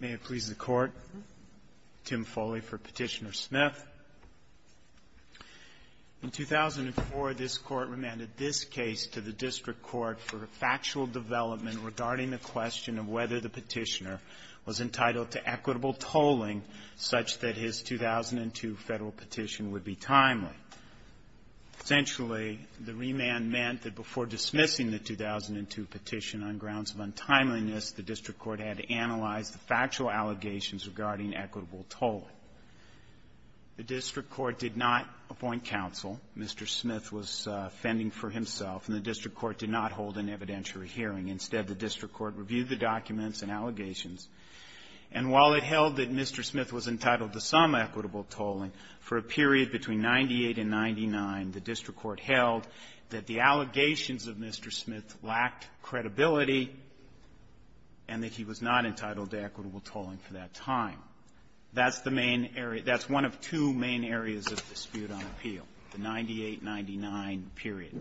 May it please the Court, Tim Foley for Petitioner-Smith. In 2004, this Court remanded this case to the District Court for factual development regarding the question of whether the petitioner was entitled to equitable tolling such that his 2002 Federal petition would be timely. Essentially, the remand meant that before dismissing the District Court had to analyze the factual allegations regarding equitable tolling. The District Court did not appoint counsel. Mr. Smith was fending for himself, and the District Court did not hold an evidentiary hearing. Instead, the District Court reviewed the documents and allegations. And while it held that Mr. Smith was entitled to some equitable tolling, for a period between 1998 and 1999, the District Court held that the allegations of Mr. Smith lacked credibility and that he was not entitled to equitable tolling for that time. That's the main area. That's one of two main areas of dispute on appeal, the 98-99 period.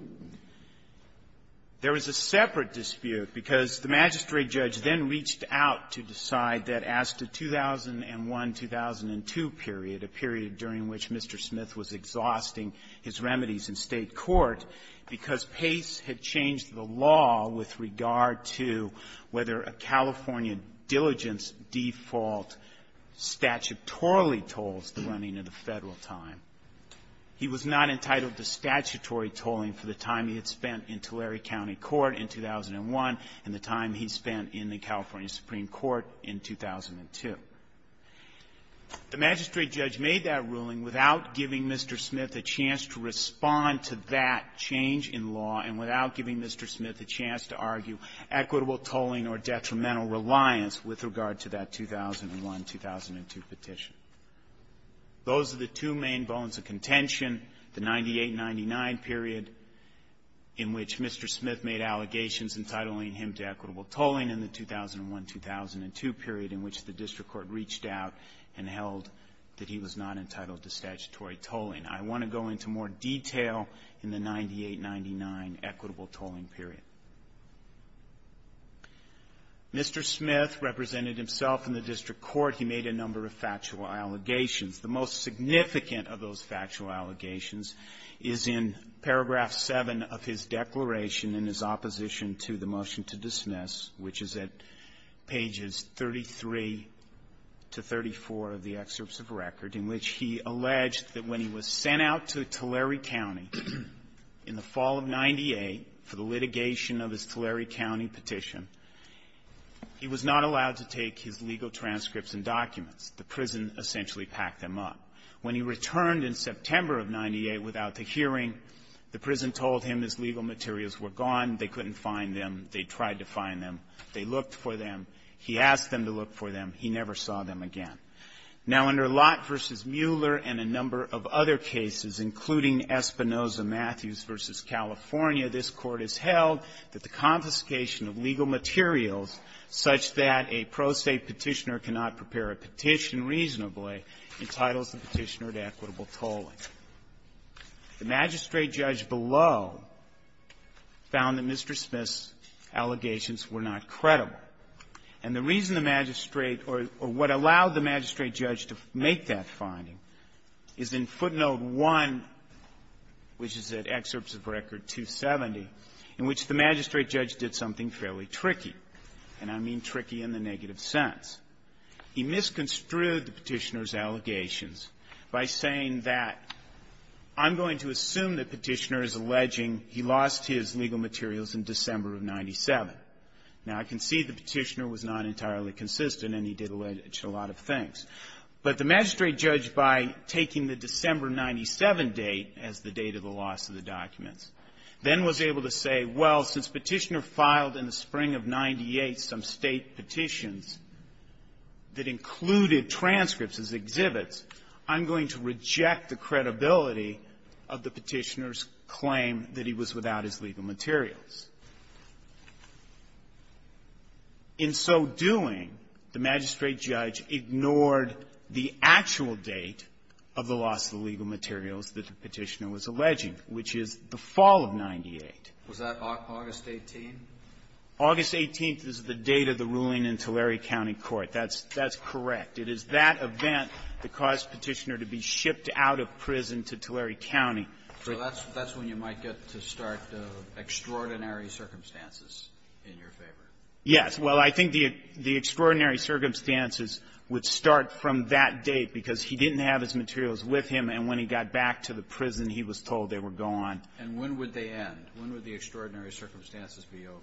There was a separate dispute because the magistrate judge then reached out to decide that as to 2001-2002 period, a period during which Mr. Smith was not entitled to equitable tolling. The magistrate judge then reached out to decide that as to 2001-2002 period, a period during which Mr. Smith was not entitled to equitable tolling. The magistrate judge then reached out to decide that as to 2001-2002 period, a period during which Mr. Smith was not entitled to equitable tolling. And without giving Mr. Smith a chance to respond to that change in law, and without giving Mr. Smith a chance to argue equitable tolling or detrimental reliance with regard to that 2001-2002 petition. Those are the two main bones of contention, the 98-99 period in which Mr. Smith made allegations entitling him to equitable tolling, and the I want to go into more detail in the 98-99 equitable tolling period. Mr. Smith represented himself in the district court. He made a number of factual allegations. The most significant of those factual allegations is in paragraph 7 of his declaration in his opposition to the motion to dismiss, which is at pages 33 to 34 of the excerpts of record, in which he alleged that when he was sent out to Tulare County in the fall of 98 for the litigation of his Tulare County petition, he was not allowed to take his legal transcripts and documents. The prison essentially packed them up. When he returned in September of 98 without the hearing, the prison told him his legal materials were gone, they couldn't find them, they tried to find them, they looked for them, he asked them to look for them, he never saw them again. Now, under Lott v. Mueller and a number of other cases, including Espinoza-Matthews v. California, this Court has held that the confiscation of legal materials such that a pro se Petitioner cannot prepare a petition reasonably entitles the Petitioner to equitable tolling. The magistrate judge below found that Mr. Smith's allegations were not credible. And the reason the magistrate or what allowed the magistrate judge to make that finding is in footnote 1, which is at excerpts of record 270, in which the magistrate judge did something fairly tricky, and I mean tricky in the negative sense. He misconstrued the Petitioner's allegations by saying that, I'm going to assume the Petitioner is alleging he lost his legal materials in December of 97. Now, I can see the Petitioner was not entirely consistent, and he did allege a lot of things. But the magistrate judge, by taking the December 97 date as the date of the loss of the documents, then was able to say, well, since Petitioner filed in the spring of 98 some State petitions that included transcripts as exhibits, I'm going to reject the credibility of the Petitioner's claim that he was without his legal materials. In so doing, the magistrate judge ignored the actual date of the loss of the legal materials that the Petitioner was alleging, which is the fall of 98. Was that August 18th? August 18th is the date of the ruling in Tulare County Court. That's correct. It is that event that caused Petitioner to be shipped out of prison to Tulare County. So that's when you might get to start the extraordinary circumstances in your favor. Yes. Well, I think the extraordinary circumstances would start from that date, because he didn't have his materials with him, and when he got back to the prison, he was told they were gone. And when would they end? When would the extraordinary circumstances be over?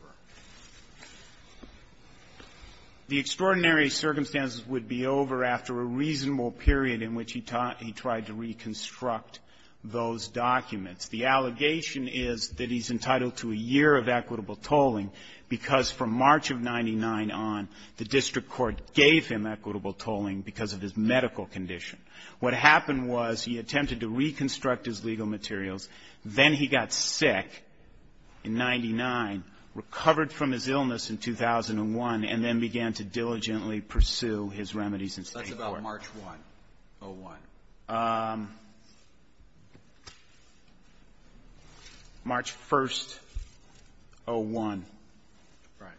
The extraordinary circumstances would be over after a reasonable period in which he taught he tried to reconstruct those documents. The allegation is that he's entitled to a year of equitable tolling, because from March of 99 on, the district court gave him equitable tolling because of his medical condition. What happened was he attempted to reconstruct his legal materials. Then he got sick in 99, recovered from his illness in 2001, and then began to diligently pursue his remedies in state court. That's about March 1, 01. March 1, 01. Right.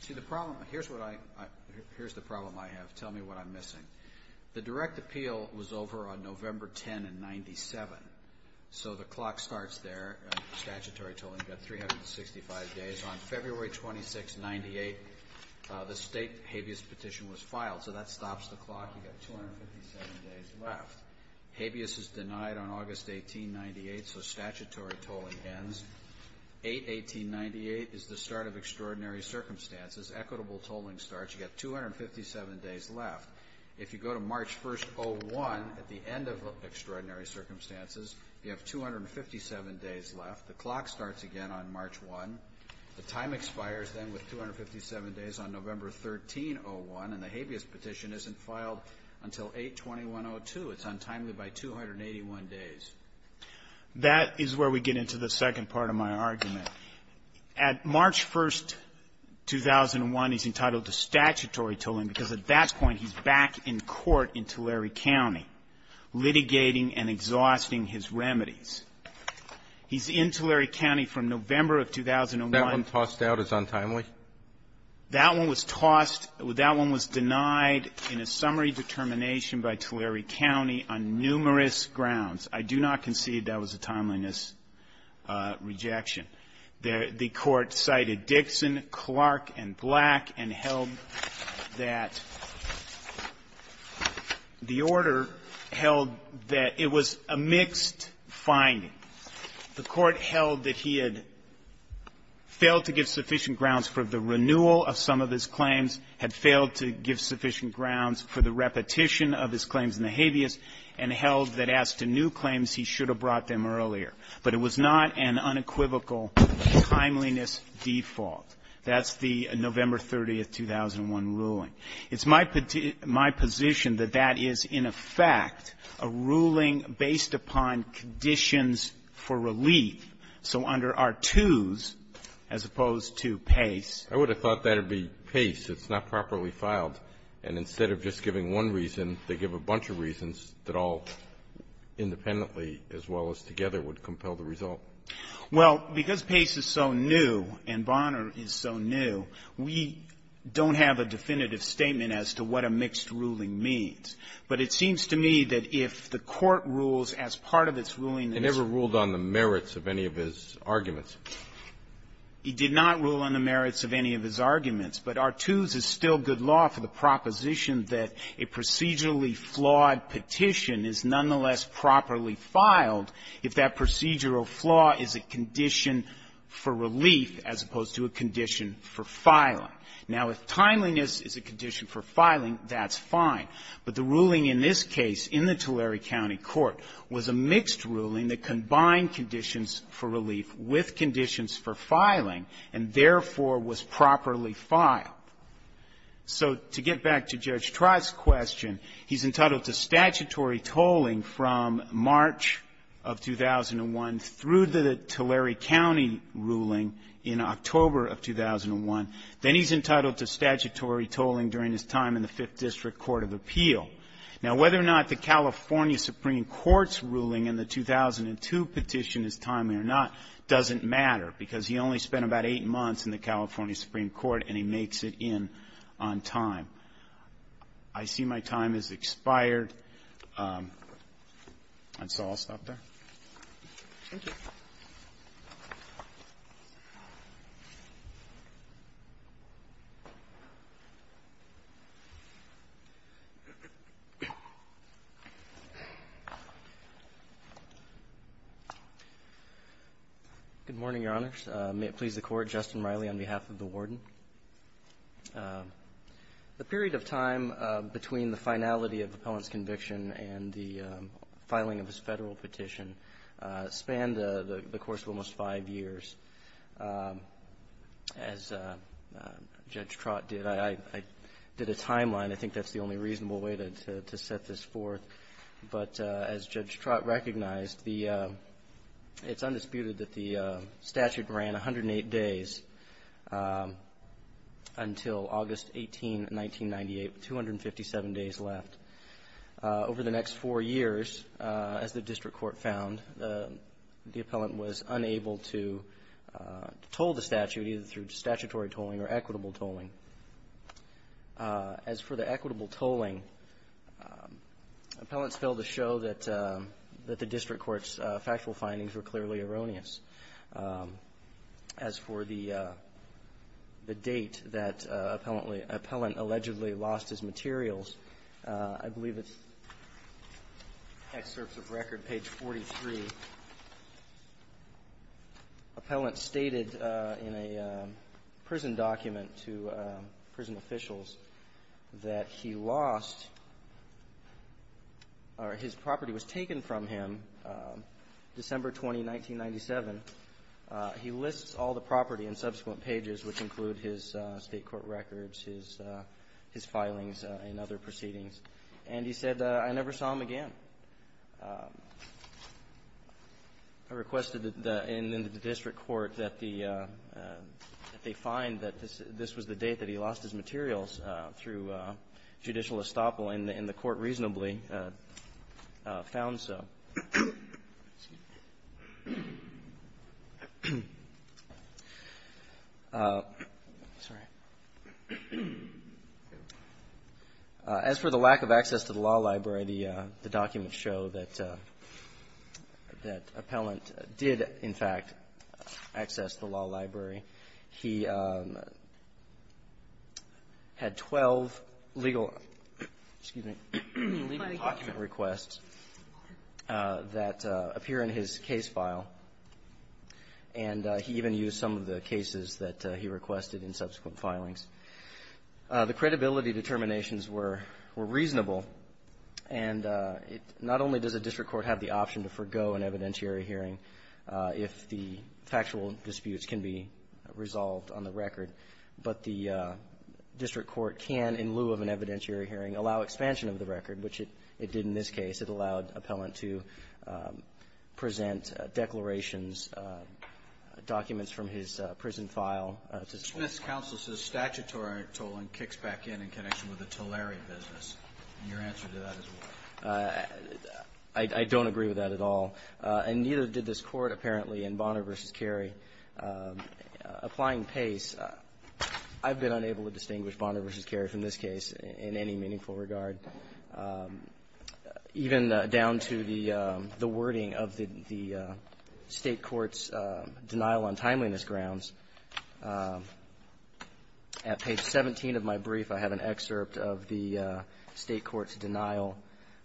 See, the problem here's what I here's the problem I have. Tell me what I'm missing. The direct appeal was over on November 10 in 97. So the clock starts there. Statutory tolling got 365 days. On February 26, 98, the state habeas petition was filed. So that stops the clock. You got 257 days left. Habeas is denied on August 18, 98, so statutory tolling ends. 8-18-98 is the start of extraordinary circumstances. Equitable tolling starts. You got 257 days left. If you go to March 1, 01, at the end of extraordinary circumstances, you have 257 days left. The clock starts again on March 1. The time expires then with 257 days on November 13, 01, and the habeas petition isn't filed until 8-21-02. It's untimely by 281 days. That is where we get into the second part of my argument. At March 1, 2001, he's entitled to statutory tolling because at that point, he's back in court in Tulare County litigating and exhausting his remedies. He's in Tulare County from November of 2001. That one tossed out is untimely? That one was tossed or that one was denied in a summary determination by Tulare County on numerous grounds. I do not concede that was a timeliness rejection. The court cited Dixon, Clark, and Black and held that the order held that it was a mixed finding. The court held that he had failed to give sufficient grounds for the renewal of some of his claims, had failed to give sufficient grounds for the repetition of his claims in the habeas, and held that as to new claims, he should have brought them earlier. But it was not an unequivocal timeliness default. That's the November 30, 2001, ruling. It's my position that that is, in effect, a ruling based upon conditions for relief. So under R-2s, as opposed to Pace — I would have thought that would be Pace. It's not properly filed. And instead of just giving one reason, they give a bunch of reasons that all independently as well as together would compel the result. Well, because Pace is so new and Bonner is so new, we don't have a definitive statement as to what a mixed ruling means. But it seems to me that if the court rules as part of its ruling that it's — It never ruled on the merits of any of his arguments. It did not rule on the merits of any of his arguments. But R-2s is still good law for the proposition that a procedurally flawed petition is nonetheless properly filed if that procedural flaw is a condition for relief as opposed to a condition for filing. Now, if timeliness is a condition for filing, that's fine. But the ruling in this case in the Tulare County Court was a mixed ruling that combined conditions for relief with conditions for filing and therefore was properly filed. So to get back to Judge Trott's question, he's entitled to statutory tolling from March of 2001 through the Tulare County ruling in October of 2001. Then he's entitled to statutory tolling during his time in the Fifth District Court of Appeal. Now, whether or not the California Supreme Court's ruling in the 2002 petition is timely or not doesn't matter, because he only spent about eight months in the California Supreme Court, and he makes it in on time. I see my time has expired, and so I'll stop there. Thank you. Good morning, Your Honors. May it please the Court, Justin Riley on behalf of the Warden. The period of time between the finality of the opponent's conviction and the filing of his Federal petition spanned the course of almost five years. As Judge Trott did, I did a timeline. I think that's the only reasonable way to set this forth. But as Judge Trott recognized, it's undisputed that the statute ran 108 days until August 18, 1998, with 257 days left. Over the next four years, as the district court found, the appellant was unable to toll the statute, either through statutory tolling or equitable tolling. As for the equitable tolling, appellants failed to show that the district court's factual findings were clearly erroneous. As for the date that appellant allegedly lost his materials, I believe it's excerpts of record, page 43. Appellant stated in a prison document to prison officials that he lost, or his property was taken from him, December 20, 1997. He lists all the property in subsequent pages, which include his state court records, his filings, and other proceedings. And he said, I never saw him again. I requested that the district court, that they find that this was the date that he lost his materials through judicial estoppel, and the court reasonably found so. As for the lack of access to the law library, the documents show that appellant did, in fact, access the law library. He had 12 legal, excuse me, legal document requests that appear in his case file. And he even used some of the cases that he requested in subsequent filings. The credibility determinations were reasonable. And not only does a district court have the option to forgo an evidentiary hearing if the factual disputes can be resolved on the record, but the district court can, in lieu of an evidentiary hearing, allow expansion of the record, which it did in this case. It allowed appellant to present declarations, documents from his prison file. The Smith's counsel says statutory tolling kicks back in in connection with the Tullary business. And your answer to that is what? I don't agree with that at all. And neither did this Court, apparently, in Bonner v. Carey. Applying Pace, I've been unable to distinguish Bonner v. Carey from this case in any meaningful regard, even down to the wording of the State court's denial on timeliness grounds. At page 17 of my brief, I have an excerpt of the State court's denial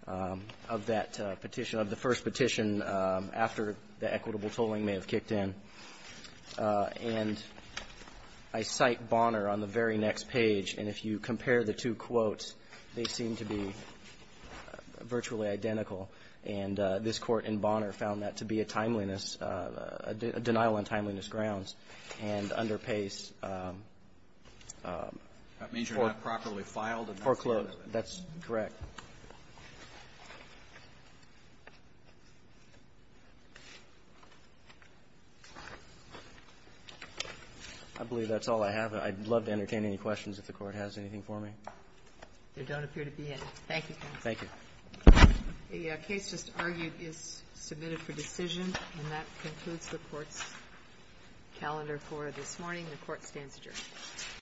of that petition, of the first petition after the equitable tolling may have kicked in. And I cite Bonner on the very next page. And if you compare the two quotes, they seem to be virtually identical. And this Court in Bonner found that to be a timeliness, a denial on timeliness grounds. And under Pace, foreclosed. That's correct. I believe that's all I have. I'd love to entertain any questions if the Court has anything for me. There don't appear to be any. Thank you, counsel. Thank you. The case just argued is submitted for decision. And that concludes the Court's calendar for this morning. The Court stands adjourned.